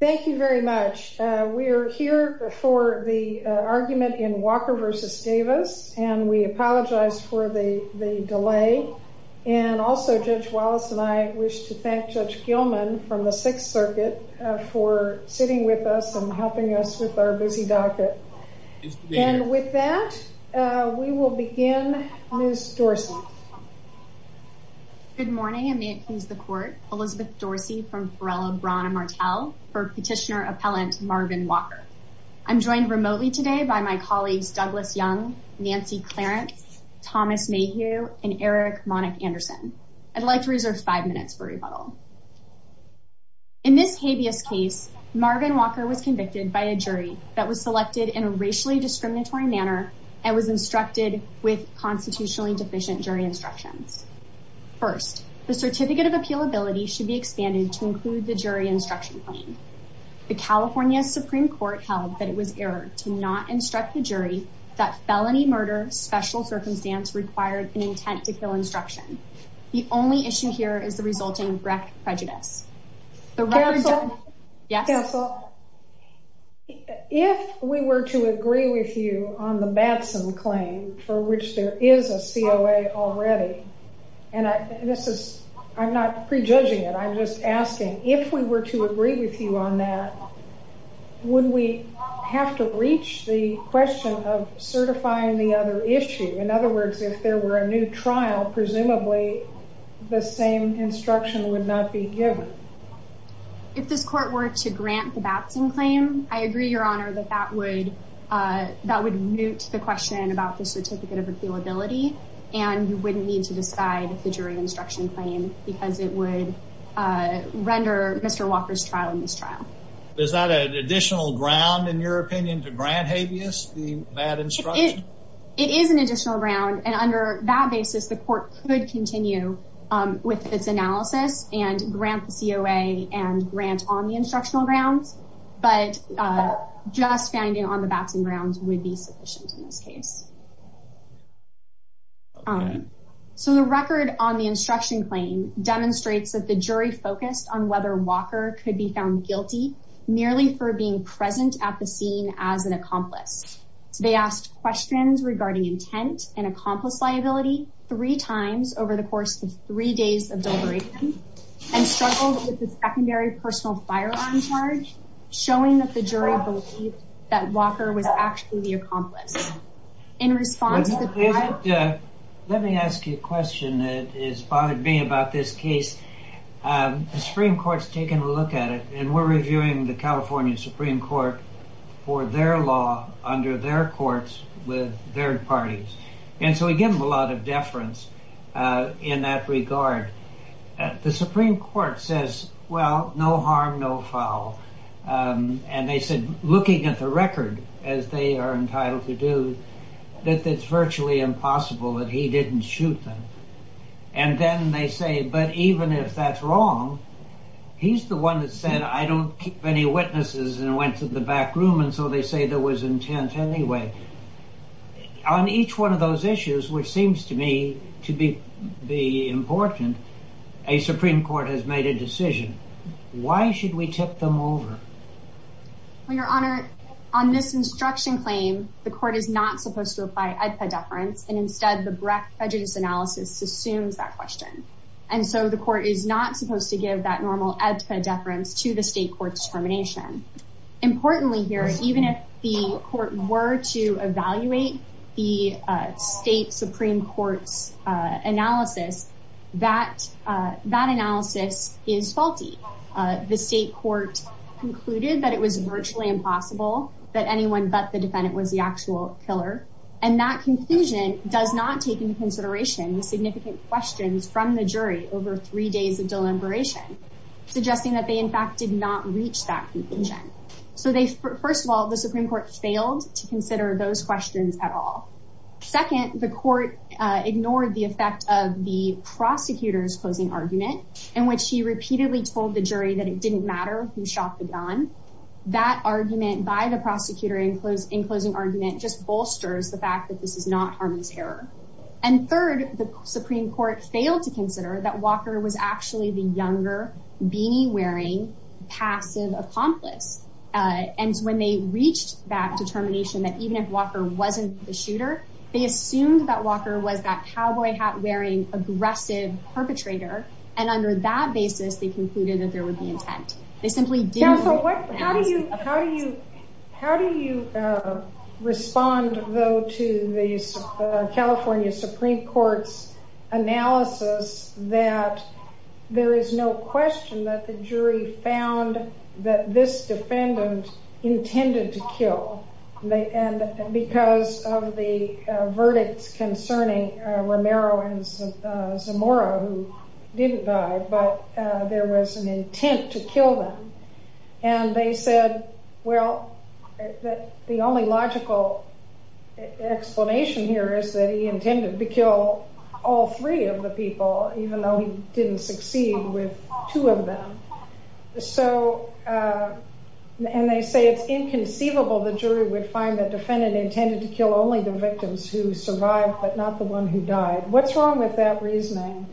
Thank you very much. We're here for the argument in Walker v. Davis, and we apologize for the delay. And also, Judge Wallace and I wish to thank Judge Gilman from the Sixth Circuit for sitting with us and helping us with our busy docket. And with that, we will begin. Ms. Dorsey. Good morning, and may it please the Court. Elizabeth Dorsey from Perella, Braun and Martel for Petitioner Appellant Marvin Walker. I'm joined remotely today by my colleagues Douglas Young, Nancy Clarence, Thomas Mayhew, and Eric Monick-Anderson. I'd like to reserve five minutes for rebuttal. In this habeas case, Marvin Walker was convicted by a jury that was selected in a racially discriminatory manner and was instructed with constitutionally deficient jury instructions. First, the certificate of appealability should be expanded to include the jury instruction plan. The California Supreme Court held that it was error to not instruct the jury that felony murder special circumstance required an intent to kill instruction. The only issue here is the resulting rec prejudice. Counsel, if we were to agree with you on the Batson claim, for which there is a COA already, and I'm not prejudging it, I'm just asking, if we were to agree with you on that, would we have to reach the question of certifying the other issue? In other words, if there were a new trial, presumably the same instruction would not be given. If this court were to grant the Batson claim, I agree, Your Honor, that that would mute the question about the certificate of appealability, and you wouldn't need to decide the jury instruction claim because it would render Mr. Walker's trial a mistrial. Is that an additional ground, in your opinion, to grant habeas the bad instruction? It is an additional ground, and under that basis, the court could continue with its analysis and grant the COA and grant on the instructional grounds, but just finding on the Batson grounds would be sufficient in this case. So the record on the instruction claim demonstrates that the jury focused on whether Walker could be found guilty merely for being present at the scene as an accomplice. They asked questions regarding intent and accomplice liability three times over the course of three days of deliberation, and struggled with the secondary personal firearm charge, showing that the jury believed that Walker was actually the accomplice. Let me ask you a question that has bothered me about this case. The Supreme Court's taken a look at it, and we're reviewing the California Supreme Court for their law under their courts with their parties, and so we give them a lot of deference in that regard. The Supreme Court says, well, no harm, no foul, and they said, looking at the record, as they are entitled to do, that it's virtually impossible that he didn't shoot them. And then they say, but even if that's wrong, he's the one that said, I don't keep any witnesses and went to the back room, and so they say there was intent anyway. On each one of those issues, which seems to me to be important, a Supreme Court has made a decision. Why should we tip them over? Well, Your Honor, on this instruction claim, the court is not supposed to apply EDPA deference, and instead the Brecht prejudice analysis assumes that question. And so the court is not supposed to give that normal EDPA deference to the state court's determination. Importantly here, even if the court were to evaluate the state Supreme Court's analysis, that analysis is faulty. The state court concluded that it was virtually impossible that anyone but the defendant was the actual killer, and that conclusion does not take into consideration the significant questions from the jury over three days of deliberation, suggesting that they, in fact, did not reach that conclusion. So first of all, the Supreme Court failed to consider those questions at all. Second, the court ignored the effect of the prosecutor's closing argument, in which he repeatedly told the jury that it didn't matter who shot the gun. That argument by the prosecutor in closing argument just bolsters the fact that this is not Harmon's error. And third, the Supreme Court failed to consider that Walker was actually the younger, beanie-wearing, passive accomplice. And when they reached that determination, that even if Walker wasn't the shooter, they assumed that Walker was that cowboy hat-wearing, aggressive perpetrator. And under that basis, they concluded that there would be intent. How do you respond, though, to the California Supreme Court's analysis that there is no question that the jury found that this defendant intended to kill? And because of the verdicts concerning Romero and Zamora, who didn't die, but there was an intent to kill them. And they said, well, the only logical explanation here is that he intended to kill all three of the people, even though he didn't succeed with two of them. And they say it's inconceivable the jury would find that the defendant intended to kill only the victims who survived, but not the one who died. What's wrong with that reasoning?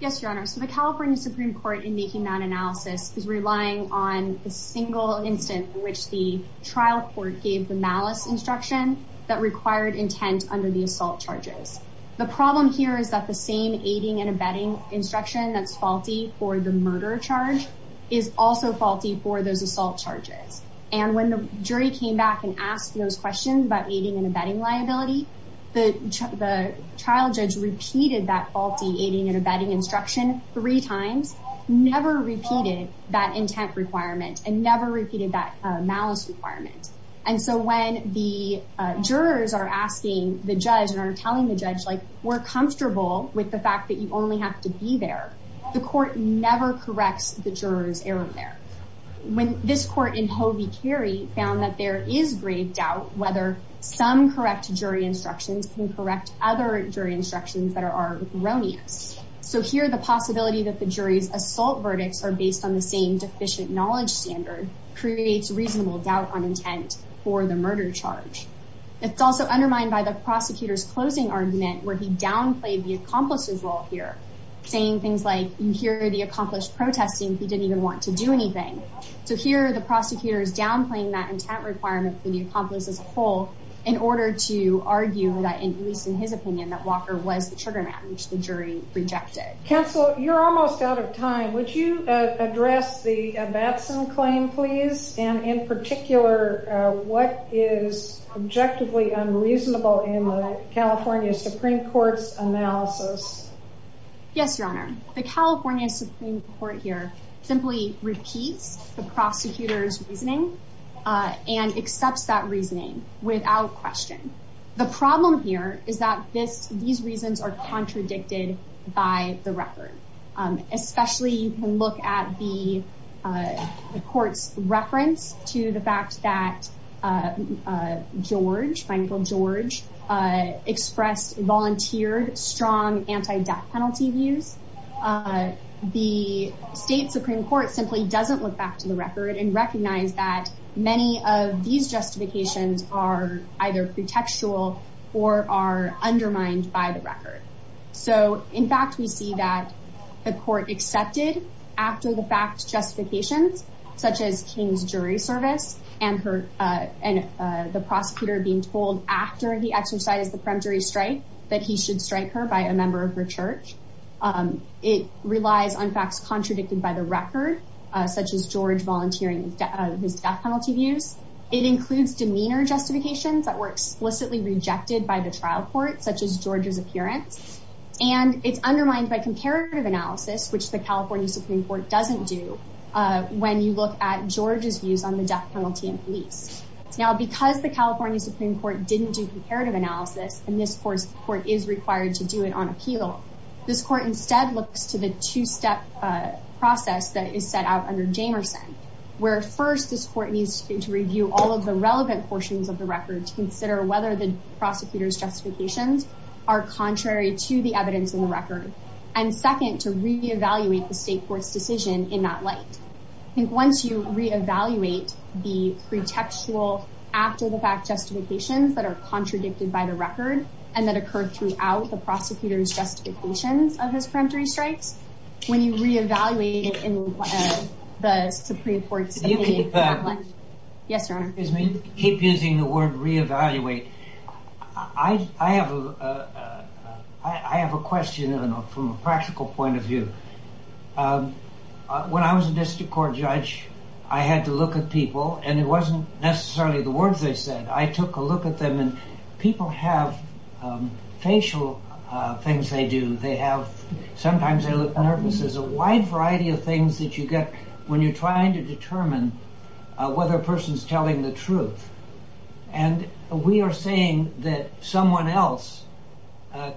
Yes, Your Honor. So the California Supreme Court, in making that analysis, is relying on the single instance in which the trial court gave the malice instruction that required intent under the assault charges. The problem here is that the same aiding and abetting instruction that's faulty for the murder charge is also faulty for those assault charges. And when the jury came back and asked those questions about aiding and abetting liability, the trial judge repeated that faulty aiding and abetting instruction three times, never repeated that intent requirement, and never repeated that malice requirement. And so when the jurors are asking the judge and are telling the judge, like, we're comfortable with the fact that you only have to be there, the court never corrects the juror's error there. When this court in Hovey Carey found that there is grave doubt whether some correct jury instructions can correct other jury instructions that are erroneous. So here the possibility that the jury's assault verdicts are based on the same deficient knowledge standard creates reasonable doubt on intent for the murder charge. It's also undermined by the prosecutor's closing argument where he downplayed the accomplice's role here, saying things like, you hear the accomplice protesting, he didn't even want to do anything. So here the prosecutor is downplaying that intent requirement for the accomplice as a whole in order to argue that, at least in his opinion, that Walker was the trigger man, which the jury rejected. Counsel, you're almost out of time. Would you address the Batson claim, please? And in particular, what is objectively unreasonable in the California Supreme Court's analysis? Yes, Your Honor. The California Supreme Court here simply repeats the prosecutor's reasoning and accepts that reasoning without question. The problem here is that these reasons are contradicted by the record, especially you can look at the court's reference to the fact that George, Michael George, expressed volunteered strong anti-death penalty views. The state Supreme Court simply doesn't look back to the record and recognize that many of these justifications are either pretextual or are undermined by the record. So, in fact, we see that the court accepted after the fact justifications, such as King's jury service and the prosecutor being told after he exercised the peremptory strike that he should strike her by a member of her church. It relies on facts contradicted by the record, such as George volunteering his death penalty views. It includes demeanor justifications that were explicitly rejected by the trial court, such as George's appearance. And it's undermined by comparative analysis, which the California Supreme Court doesn't do when you look at George's views on the death penalty in police. Now, because the California Supreme Court didn't do comparative analysis, and this court is required to do it on appeal, this court instead looks to the two-step process that is set out under Jamerson, where first, this court needs to review all of the relevant portions of the record to consider whether the prosecutor's justifications are contrary to the evidence in the record, and second, to reevaluate the state court's decision in that light. I think once you reevaluate the pretextual after the fact justifications that are contradicted by the record, and that occur throughout the prosecutor's justifications of his peremptory strikes, when you reevaluate it in the Supreme Court's opinion... Keep using the word reevaluate. I have a question from a practical point of view. When I was a district court judge, I had to look at people, and it wasn't necessarily the words they said. I took a look at them, and people have facial things they do. Sometimes they look nervous. There's a wide variety of things that you get when you're trying to determine whether a person's telling the truth, and we are saying that someone else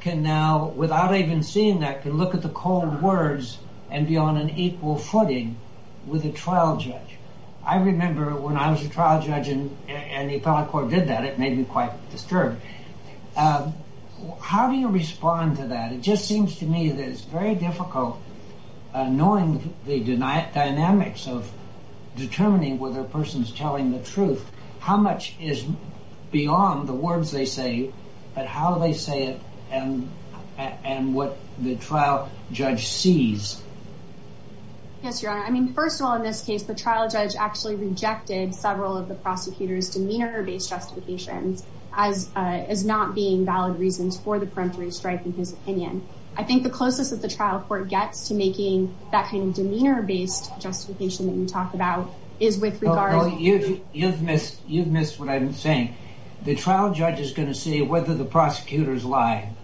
can now, without even seeing that, can look at the cold words and be on an equal footing with a trial judge. I remember when I was a trial judge, and the appellate court did that. It made me quite disturbed. How do you respond to that? It just seems to me that it's very difficult, knowing the dynamics of determining whether a person's telling the truth, how much is beyond the words they say, but how they say it, and what the trial judge sees. Yes, Your Honor. First of all, in this case, the trial judge actually rejected several of the prosecutor's demeanor-based justifications as not being valid reasons for the peremptory strike in his opinion. I think the closest that the trial court gets to making that kind of demeanor-based justification that you talk about is with regard... No, you've missed what I'm saying. The trial judge is going to see whether the prosecutor's lying.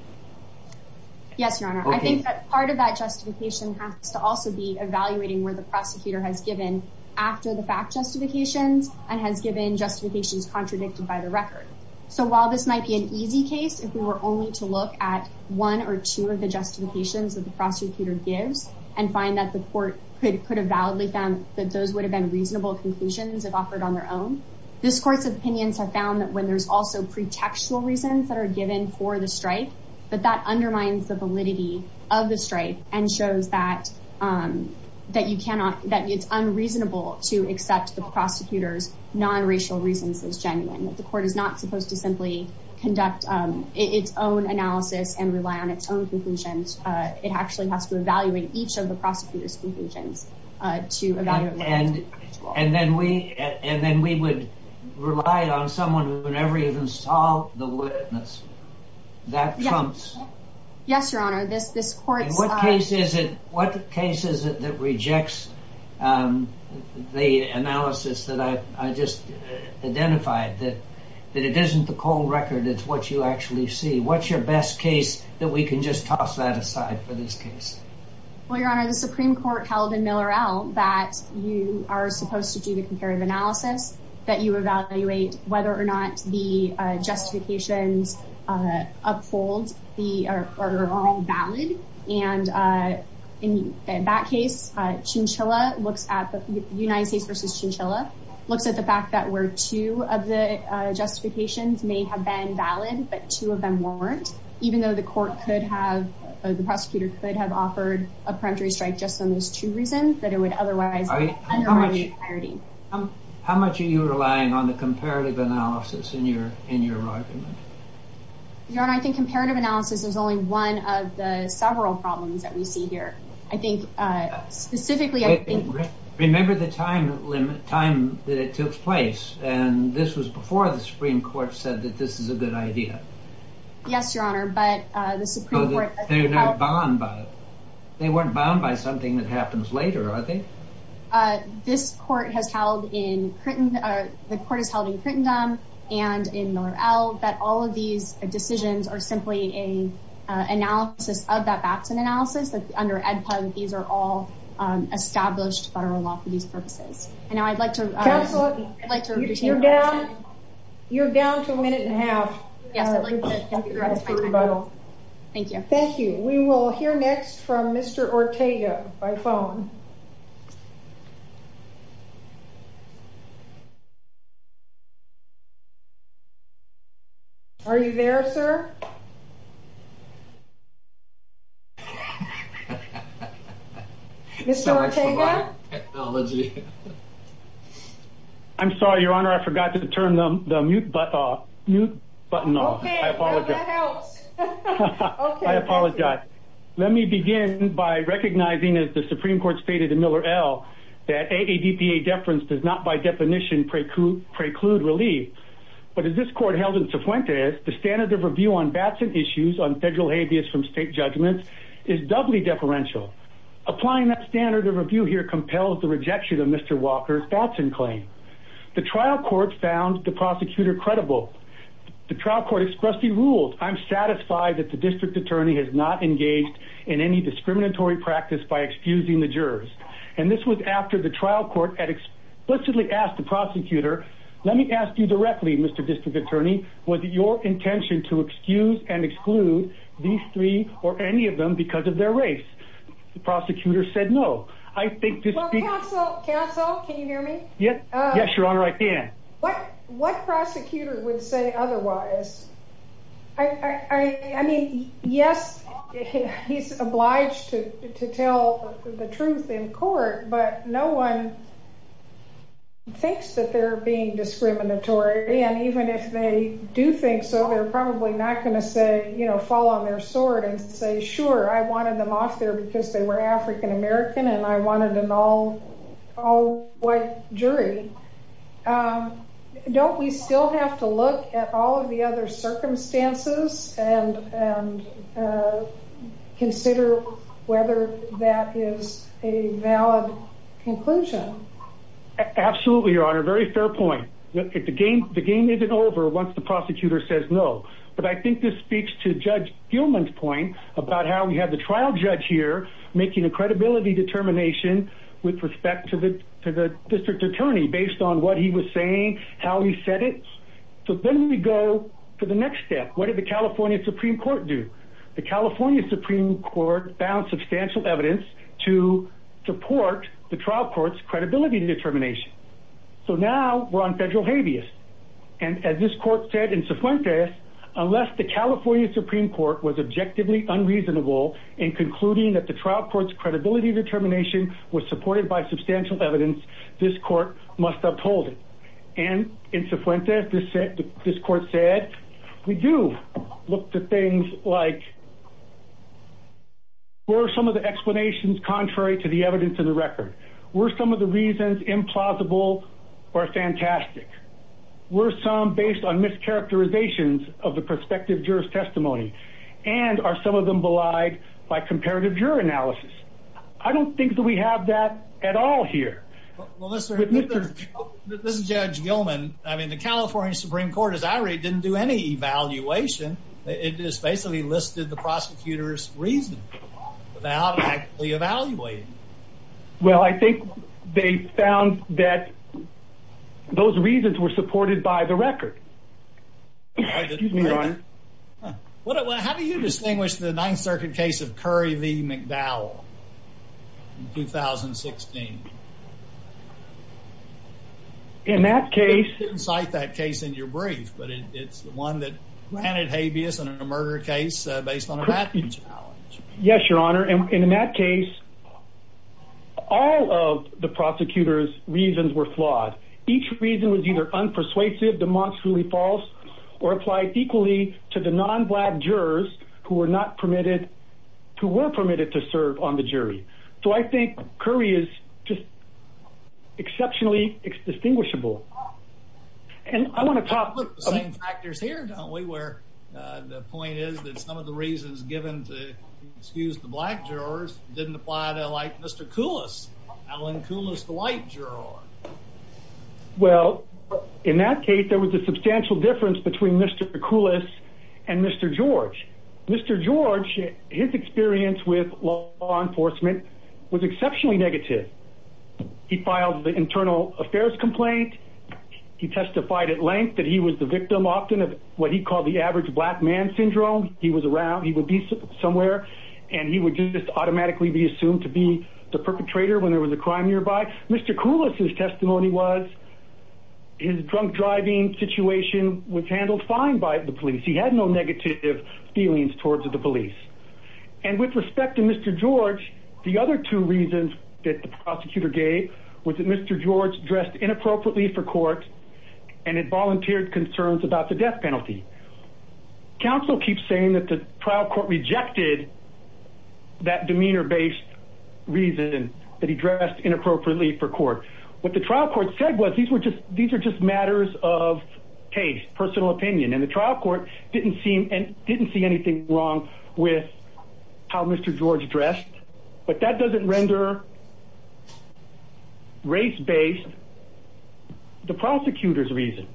Yes, Your Honor. I think that part of that justification has to also be evaluating where the prosecutor has given after-the-fact justifications and has given justifications contradicted by the record. So while this might be an easy case if we were only to look at one or two of the justifications that the prosecutor gives and find that the court could have validly found that those would have been reasonable conclusions if offered on their own, this Court's opinions have found that when there's also pretextual reasons that are given for the strike, that that undermines the validity of the strike and shows that it's unreasonable to accept the prosecutor's non-racial reasons as genuine, that the court is not supposed to simply conduct its own analysis and rely on its own conclusions. It actually has to evaluate each of the prosecutor's conclusions to evaluate whether that's true as well. And then we would rely on someone who never even saw the witness. That trumps... Yes, Your Honor. This Court's... In what case is it that rejects the analysis that I just identified, that it isn't the cold record, it's what you actually see? What's your best case that we can just toss that aside for this case? Well, Your Honor, the Supreme Court held in Millerell that you are supposed to do the comparative analysis, that you evaluate whether or not the justifications uphold, are all valid. And in that case, Chinchilla looks at... United States v. Chinchilla looks at the fact that where two of the justifications may have been valid, but two of them weren't, even though the court could have... the prosecutor could have offered a peremptory strike just on those two reasons, that it would otherwise undermine the clarity. How much are you relying on the comparative analysis in your argument? Your Honor, I think comparative analysis is only one of the several problems that we see here. I think, specifically, I think... Remember the time that it took place, and this was before the Supreme Court said that this is a good idea. Yes, Your Honor, but the Supreme Court... They're not bound by it. They weren't bound by something that happens later, are they? This court has held in... The court has held in Crittendom and in Millerell that all of these decisions are simply an analysis of that Batson analysis, that under EdPug, these are all established federal law for these purposes. And now I'd like to... Counselor, you're down to a minute and a half. Yes, I'd like to... Thank you. Thank you. We will hear next from Mr. Ortega by phone. Are you there, sir? Mr. Ortega? I'm sorry, Your Honor, I forgot to turn the mute button off. Okay, that helps. I apologize. Let me begin by recognizing, as the Supreme Court stated in Millerell, that AADPA deference does not by definition preclude relief. But as this court held in Cifuentes, the standard of review on Batson issues on federal habeas from state judgments is doubly deferential. Applying that standard of review here compels the rejection of Mr. Walker's Batson claim. The trial court found the prosecutor credible. The trial court expressly ruled, I'm satisfied that the district attorney has not engaged in any discriminatory practice by excusing the jurors. And this was after the trial court had explicitly asked the prosecutor, let me ask you directly, Mr. District Attorney, was it your intention to excuse and exclude these three or any of them because of their race? The prosecutor said no. I think this... Counsel, can you hear me? Yes, Your Honor, I can. What prosecutor would say otherwise? I mean, yes, he's obliged to tell the truth in court, but no one thinks that they're being discriminatory. And even if they do think so, they're probably not going to say, you know, fall on their sword and say, sure, I wanted them off there because they were African-American and I wanted an all-white jury. Don't we still have to look at all of the other circumstances and consider whether that is a valid conclusion? Absolutely, Your Honor. Very fair point. The game isn't over once the prosecutor says no. But I think this speaks to Judge Gilman's point about how we have the trial judge here making a credibility determination with respect to the district attorney based on what he was saying, how he said it. So then we go to the next step. What did the California Supreme Court do? The California Supreme Court found substantial evidence to support the trial court's credibility determination. So now we're on federal habeas. And as this court said in Sufuentes, unless the California Supreme Court was objectively unreasonable in concluding that the trial court's credibility determination was supported by substantial evidence, this court must uphold it. And in Sufuentes, this court said, we do look to things like, what are some of the explanations contrary to the evidence in the record? Were some of the reasons implausible or fantastic? Were some based on mischaracterizations of the prospective juror's testimony? And are some of them belied by comparative juror analysis? I don't think that we have that at all here. Well, listen, this is Judge Gilman. I mean, the California Supreme Court, as I read, didn't do any evaluation. It just basically listed the prosecutor's reasoning without actually evaluating. Well, I think they found that those reasons were supported by the record. Excuse me, Your Honor. How do you distinguish the Ninth Circuit case of Curry v. McDowell in 2016? In that case... You didn't cite that case in your brief, but it's the one that granted habeas in a murder case based on a Matthews challenge. Yes, Your Honor. And in that case, all of the prosecutor's reasons were flawed. Each reason was either unpersuasive, demonstrably false, or applied equally to the non-black jurors who were permitted to serve on the jury. So I think Curry is just exceptionally distinguishable. And I want to talk... We have the same factors here, don't we, where the point is that some of the reasons given to excuse the black jurors didn't apply to, like, Mr. Coulis. Alan Coulis, the white juror. Well, in that case, there was a substantial difference between Mr. Coulis and Mr. George. Mr. George, his experience with law enforcement was exceptionally negative. He filed the internal affairs complaint. He testified at length that he was the victim, often, of what he called the average black man syndrome. He was around, he would be somewhere, and he would just automatically be assumed to be the perpetrator when there was a crime nearby. Mr. Coulis' testimony was his drunk driving situation was handled fine by the police. He had no negative feelings towards the police. And with respect to Mr. George, the other two reasons that the prosecutor gave was that Mr. George dressed inappropriately for court and had volunteered concerns about the death penalty. Counsel keeps saying that the trial court rejected that demeanor-based reason that he dressed inappropriately for court. What the trial court said was, these are just matters of taste, personal opinion. And the trial court didn't see anything wrong with how Mr. George dressed. But that doesn't render race-based the prosecutor's reason.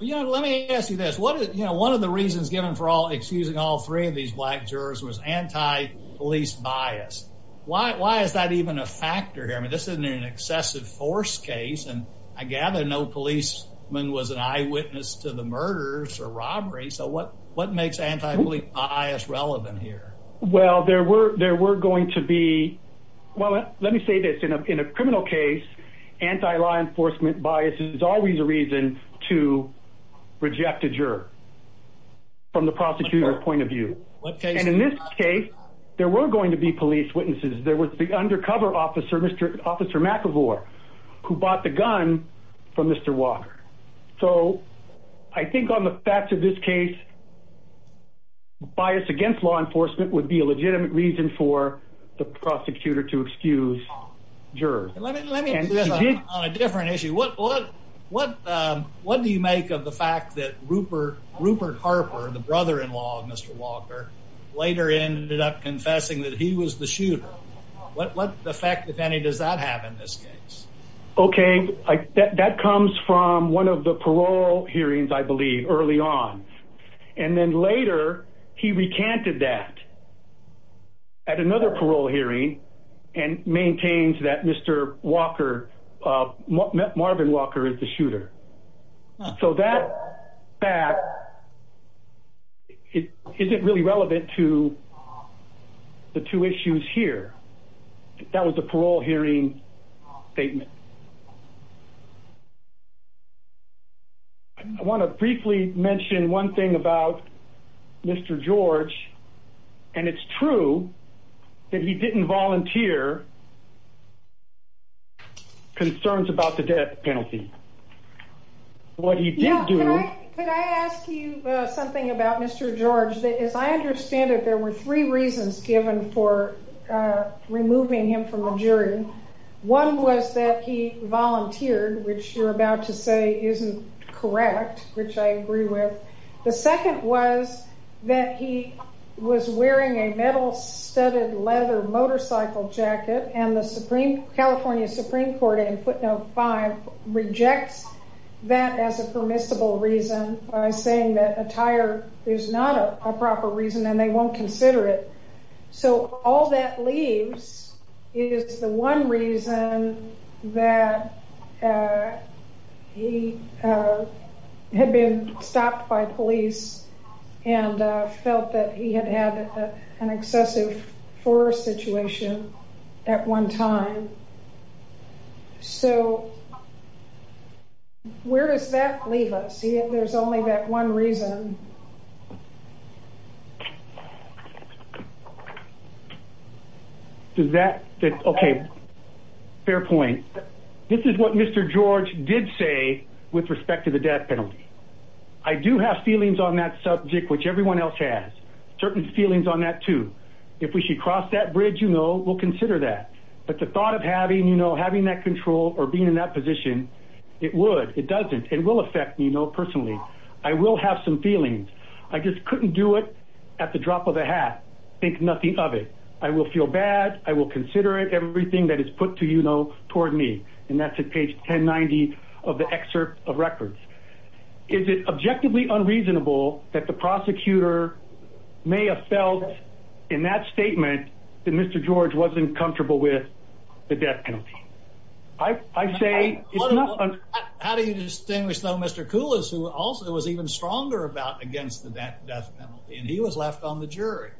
Let me ask you this. One of the reasons given for excusing all three of these black jurors was anti-police bias. Why is that even a factor here? I mean, this isn't an excessive force case. And I gather no policeman was an eyewitness to the murders or robberies. So what makes anti-police bias relevant here? Well, there were going to be – well, let me say this. In a criminal case, anti-law enforcement bias is always a reason to reject a juror from the prosecutor's point of view. And in this case, there were going to be police witnesses. There was the undercover officer, Officer McEvoy, who bought the gun from Mr. Walker. So I think on the facts of this case, bias against law enforcement would be a legitimate reason for the prosecutor to excuse jurors. Let me ask you this on a different issue. What do you make of the fact that Rupert Harper, the brother-in-law of Mr. Walker, later ended up confessing that he was the shooter? What effect, if any, does that have in this case? Okay, that comes from one of the parole hearings, I believe, early on. And then later, he recanted that at another parole hearing and maintains that Mr. Walker – Marvin Walker is the shooter. So that fact isn't really relevant to the two issues here. That was the parole hearing statement. I want to briefly mention one thing about Mr. George. And it's true that he didn't volunteer concerns about the death penalty. What he did do – Could I ask you something about Mr. George? As I understand it, there were three reasons given for removing him from the jury. One was that he volunteered, which you're about to say isn't correct, which I agree with. The second was that he was wearing a metal studded leather motorcycle jacket. And the California Supreme Court in footnote 5 rejects that as a permissible reason by saying that attire is not a proper reason and they won't consider it. So all that leaves is the one reason that he had been stopped by police and felt that he had had an excessive force situation at one time. So where does that leave us? I see that there's only that one reason. Does that – okay. Fair point. This is what Mr. George did say with respect to the death penalty. I do have feelings on that subject, which everyone else has. Certain feelings on that, too. If we should cross that bridge, you know, we'll consider that. But the thought of having, you know, having that control or being in that position, it would. It doesn't. It will affect me, you know, personally. I will have some feelings. I just couldn't do it at the drop of a hat, think nothing of it. I will feel bad. I will consider it, everything that is put to you know toward me. And that's at page 1090 of the excerpt of records. Is it objectively unreasonable that the prosecutor may have felt in that statement that Mr. George wasn't comfortable with the death penalty? I say it's not – How do you distinguish though Mr. Koulis, who also was even stronger about against the death penalty, and he was left on the jury?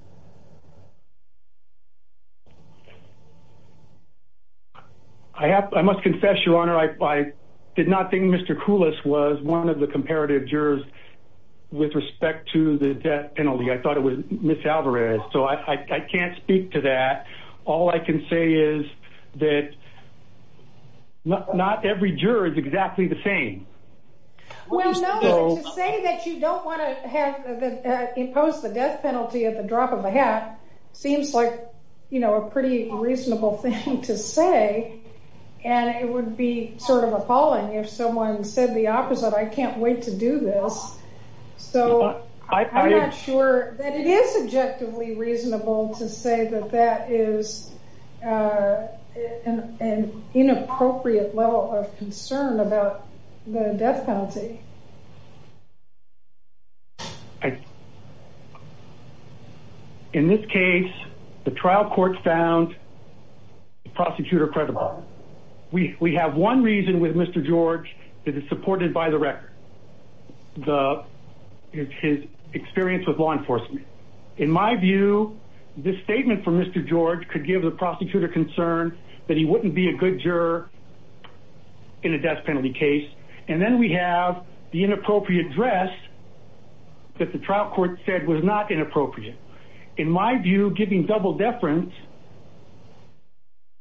I must confess, Your Honor, I did not think Mr. Koulis was one of the comparative jurors with respect to the death penalty. I thought it was Ms. Alvarez. So I can't speak to that. All I can say is that not every juror is exactly the same. Well, no, to say that you don't want to impose the death penalty at the drop of a hat seems like, you know, a pretty reasonable thing to say. And it would be sort of appalling if someone said the opposite. I can't wait to do this. So I'm not sure that it is objectively reasonable to say that that is an inappropriate level of concern about the death penalty. In this case, the trial court found the prosecutor credible. We have one reason with Mr. George that is supported by the record. It's his experience with law enforcement. In my view, this statement from Mr. George could give the prosecutor concern that he wouldn't be a good juror in a death penalty case. And then we have the inappropriate dress that the trial court said was not inappropriate. In my view, giving double deference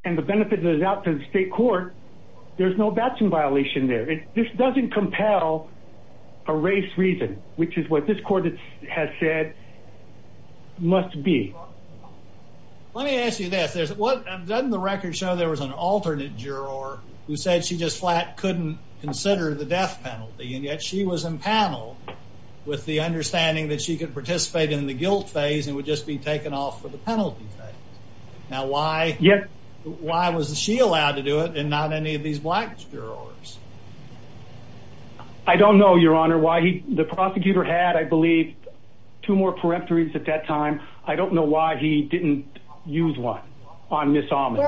and the benefit that is out to the state court, there's no Batson violation there. This doesn't compel a race reason, which is what this court has said must be. Let me ask you this. Doesn't the record show there was an alternate juror who said she just flat couldn't consider the death penalty, and yet she was empaneled with the understanding that she could participate in the guilt phase and would just be taken off for the penalty phase? Now, why was she allowed to do it and not any of these black jurors? I don't know, Your Honor, why the prosecutor had, I believe, two more peremptories at that time. I don't know why he didn't use one on Ms. Almond.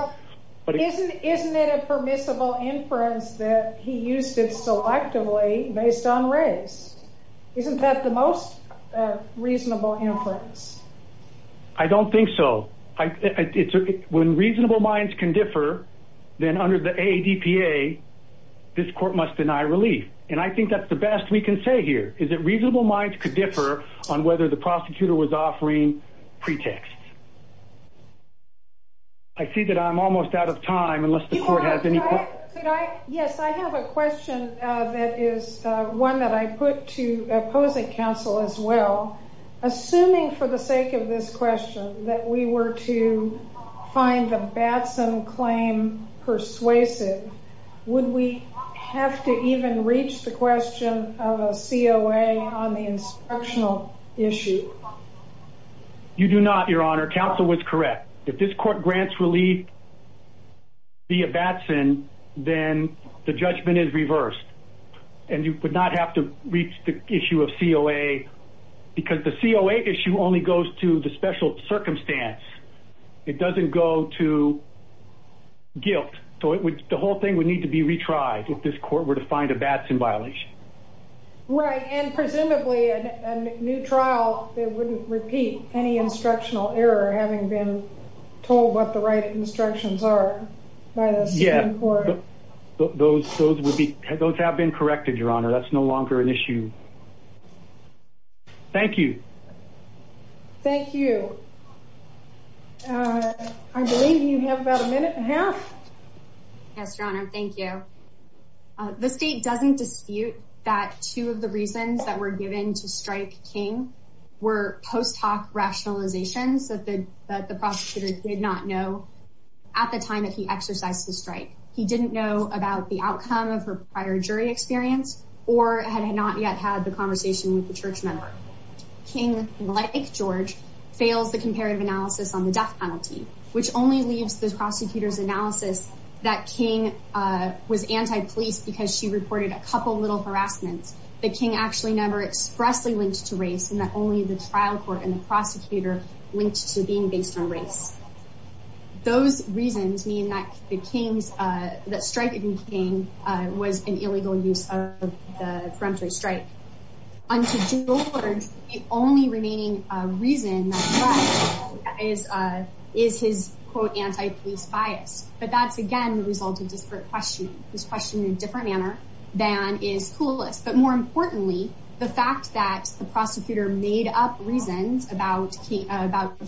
Isn't it a permissible inference that he used it selectively based on race? Isn't that the most reasonable inference? I don't think so. When reasonable minds can differ, then under the ADPA, this court must deny relief. And I think that's the best we can say here, is that reasonable minds could differ on whether the prosecutor was offering pretexts. I see that I'm almost out of time, unless the court has any questions. Yes, I have a question that is one that I put to opposing counsel as well. Assuming for the sake of this question that we were to find the Batson claim persuasive, would we have to even reach the question of a COA on the instructional issue? You do not, Your Honor. Counsel was correct. If this court grants relief via Batson, then the judgment is reversed. And you would not have to reach the issue of COA, because the COA issue only goes to the special circumstance. It doesn't go to guilt. So the whole thing would need to be retried if this court were to find a Batson violation. Right, and presumably a new trial that wouldn't repeat any instructional error, having been told what the right instructions are by the Supreme Court. Those have been corrected, Your Honor. That's no longer an issue. Thank you. Thank you. I believe you have about a minute and a half. Yes, Your Honor. Thank you. The state doesn't dispute that two of the reasons that were given to strike King were post hoc rationalizations that the prosecutor did not know at the time that he exercised the strike. He didn't know about the outcome of her prior jury experience or had not yet had the conversation with the church member. King, like George, fails the comparative analysis on the death penalty, which only leaves the prosecutor's analysis that King was anti-police because she reported a couple little harassments, that King actually never expressly linked to race, and that only the trial court and the prosecutor linked to being based on race. Those reasons mean that the King's, that striking King was an illegal use of the peremptory strike. Unto George, the only remaining reason that's left is his, quote, anti-police bias. But that's, again, the result of disparate questioning. He was questioned in a different manner than is Coulis. But more importantly, the fact that the prosecutor made up reasons about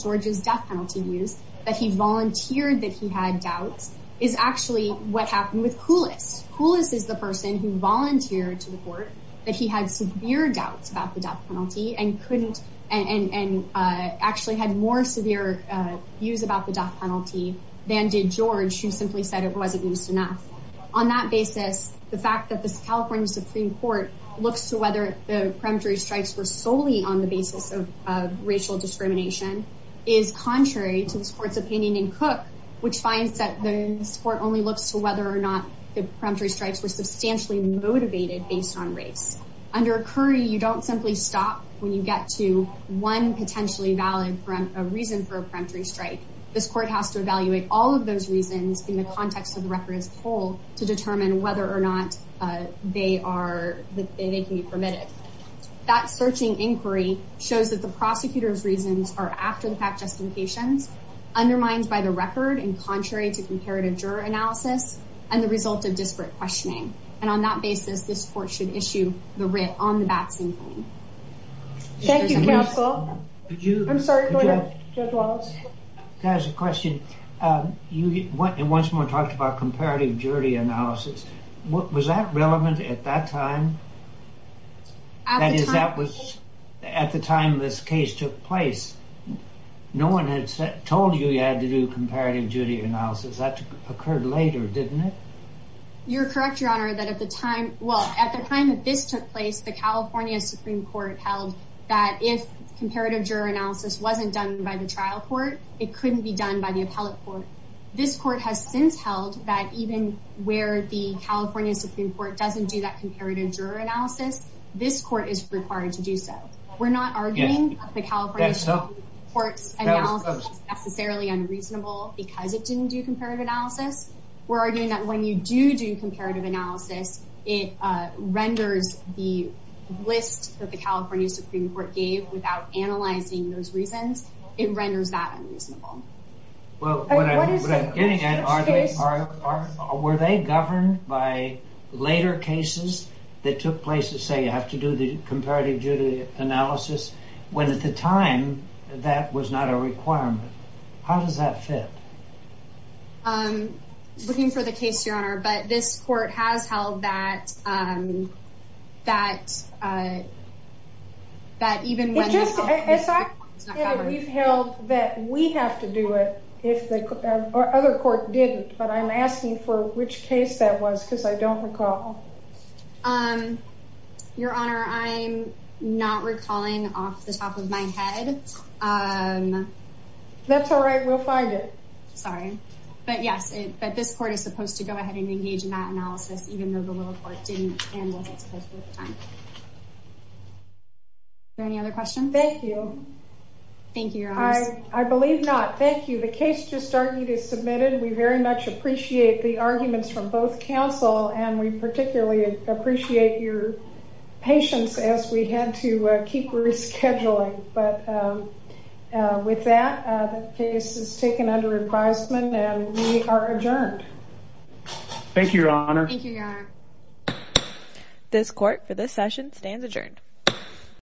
George's death penalty use, that he volunteered that he had doubts, is actually what happened with Coulis. Coulis is the person who volunteered to the court that he had severe doubts about the death penalty and couldn't, and actually had more severe views about the death penalty than did George, who simply said it wasn't used enough. On that basis, the fact that the California Supreme Court looks to whether the peremptory strikes were solely on the basis of racial discrimination is contrary to this court's opinion in Cook, which finds that this court only looks to whether or not the peremptory strikes were substantially motivated based on race. Under Curry, you don't simply stop when you get to one potentially valid reason for a peremptory strike. This court has to evaluate all of those reasons in the context of the record as a whole to determine whether or not they can be permitted. That searching inquiry shows that the prosecutor's reasons are after-the-fact justifications, undermined by the record and contrary to comparative juror analysis, and the result of disparate questioning. And on that basis, this court should issue the writ on the vaccine claim. Thank you, counsel. I'm sorry, Judge Wallace. I have a question. You once more talked about comparative jury analysis. Was that relevant at that time? That is, that was at the time this case took place. No one had told you you had to do comparative jury analysis. That occurred later, didn't it? You're correct, Your Honor, that at the time—well, at the time that this took place, the California Supreme Court held that if comparative juror analysis wasn't done by the trial court, it couldn't be done by the appellate court. This court has since held that even where the California Supreme Court doesn't do that comparative juror analysis, this court is required to do so. We're not arguing that the California Supreme Court's analysis is necessarily unreasonable because it didn't do comparative analysis. We're arguing that when you do do comparative analysis, it renders the list that the California Supreme Court gave without analyzing those reasons, it renders that unreasonable. Well, what I'm getting at, were they governed by later cases that took place that say you have to do the comparative jury analysis, when at the time that was not a requirement? How does that fit? I'm looking for the case, Your Honor, but this court has held that even when— We've held that we have to do it if the other court didn't, but I'm asking for which case that was because I don't recall. Your Honor, I'm not recalling off the top of my head. That's all right, we'll find it. Sorry, but yes, this court is supposed to go ahead and engage in that analysis even though the lower court didn't and wasn't supposed to at the time. Are there any other questions? Thank you. Thank you, Your Honor. I believe not. Thank you. The case just argued is submitted. We very much appreciate the arguments from both counsel, and we particularly appreciate your patience as we had to keep rescheduling. But with that, the case is taken under advisement, and we are adjourned. Thank you, Your Honor. Thank you, Your Honor. This court for this session stands adjourned.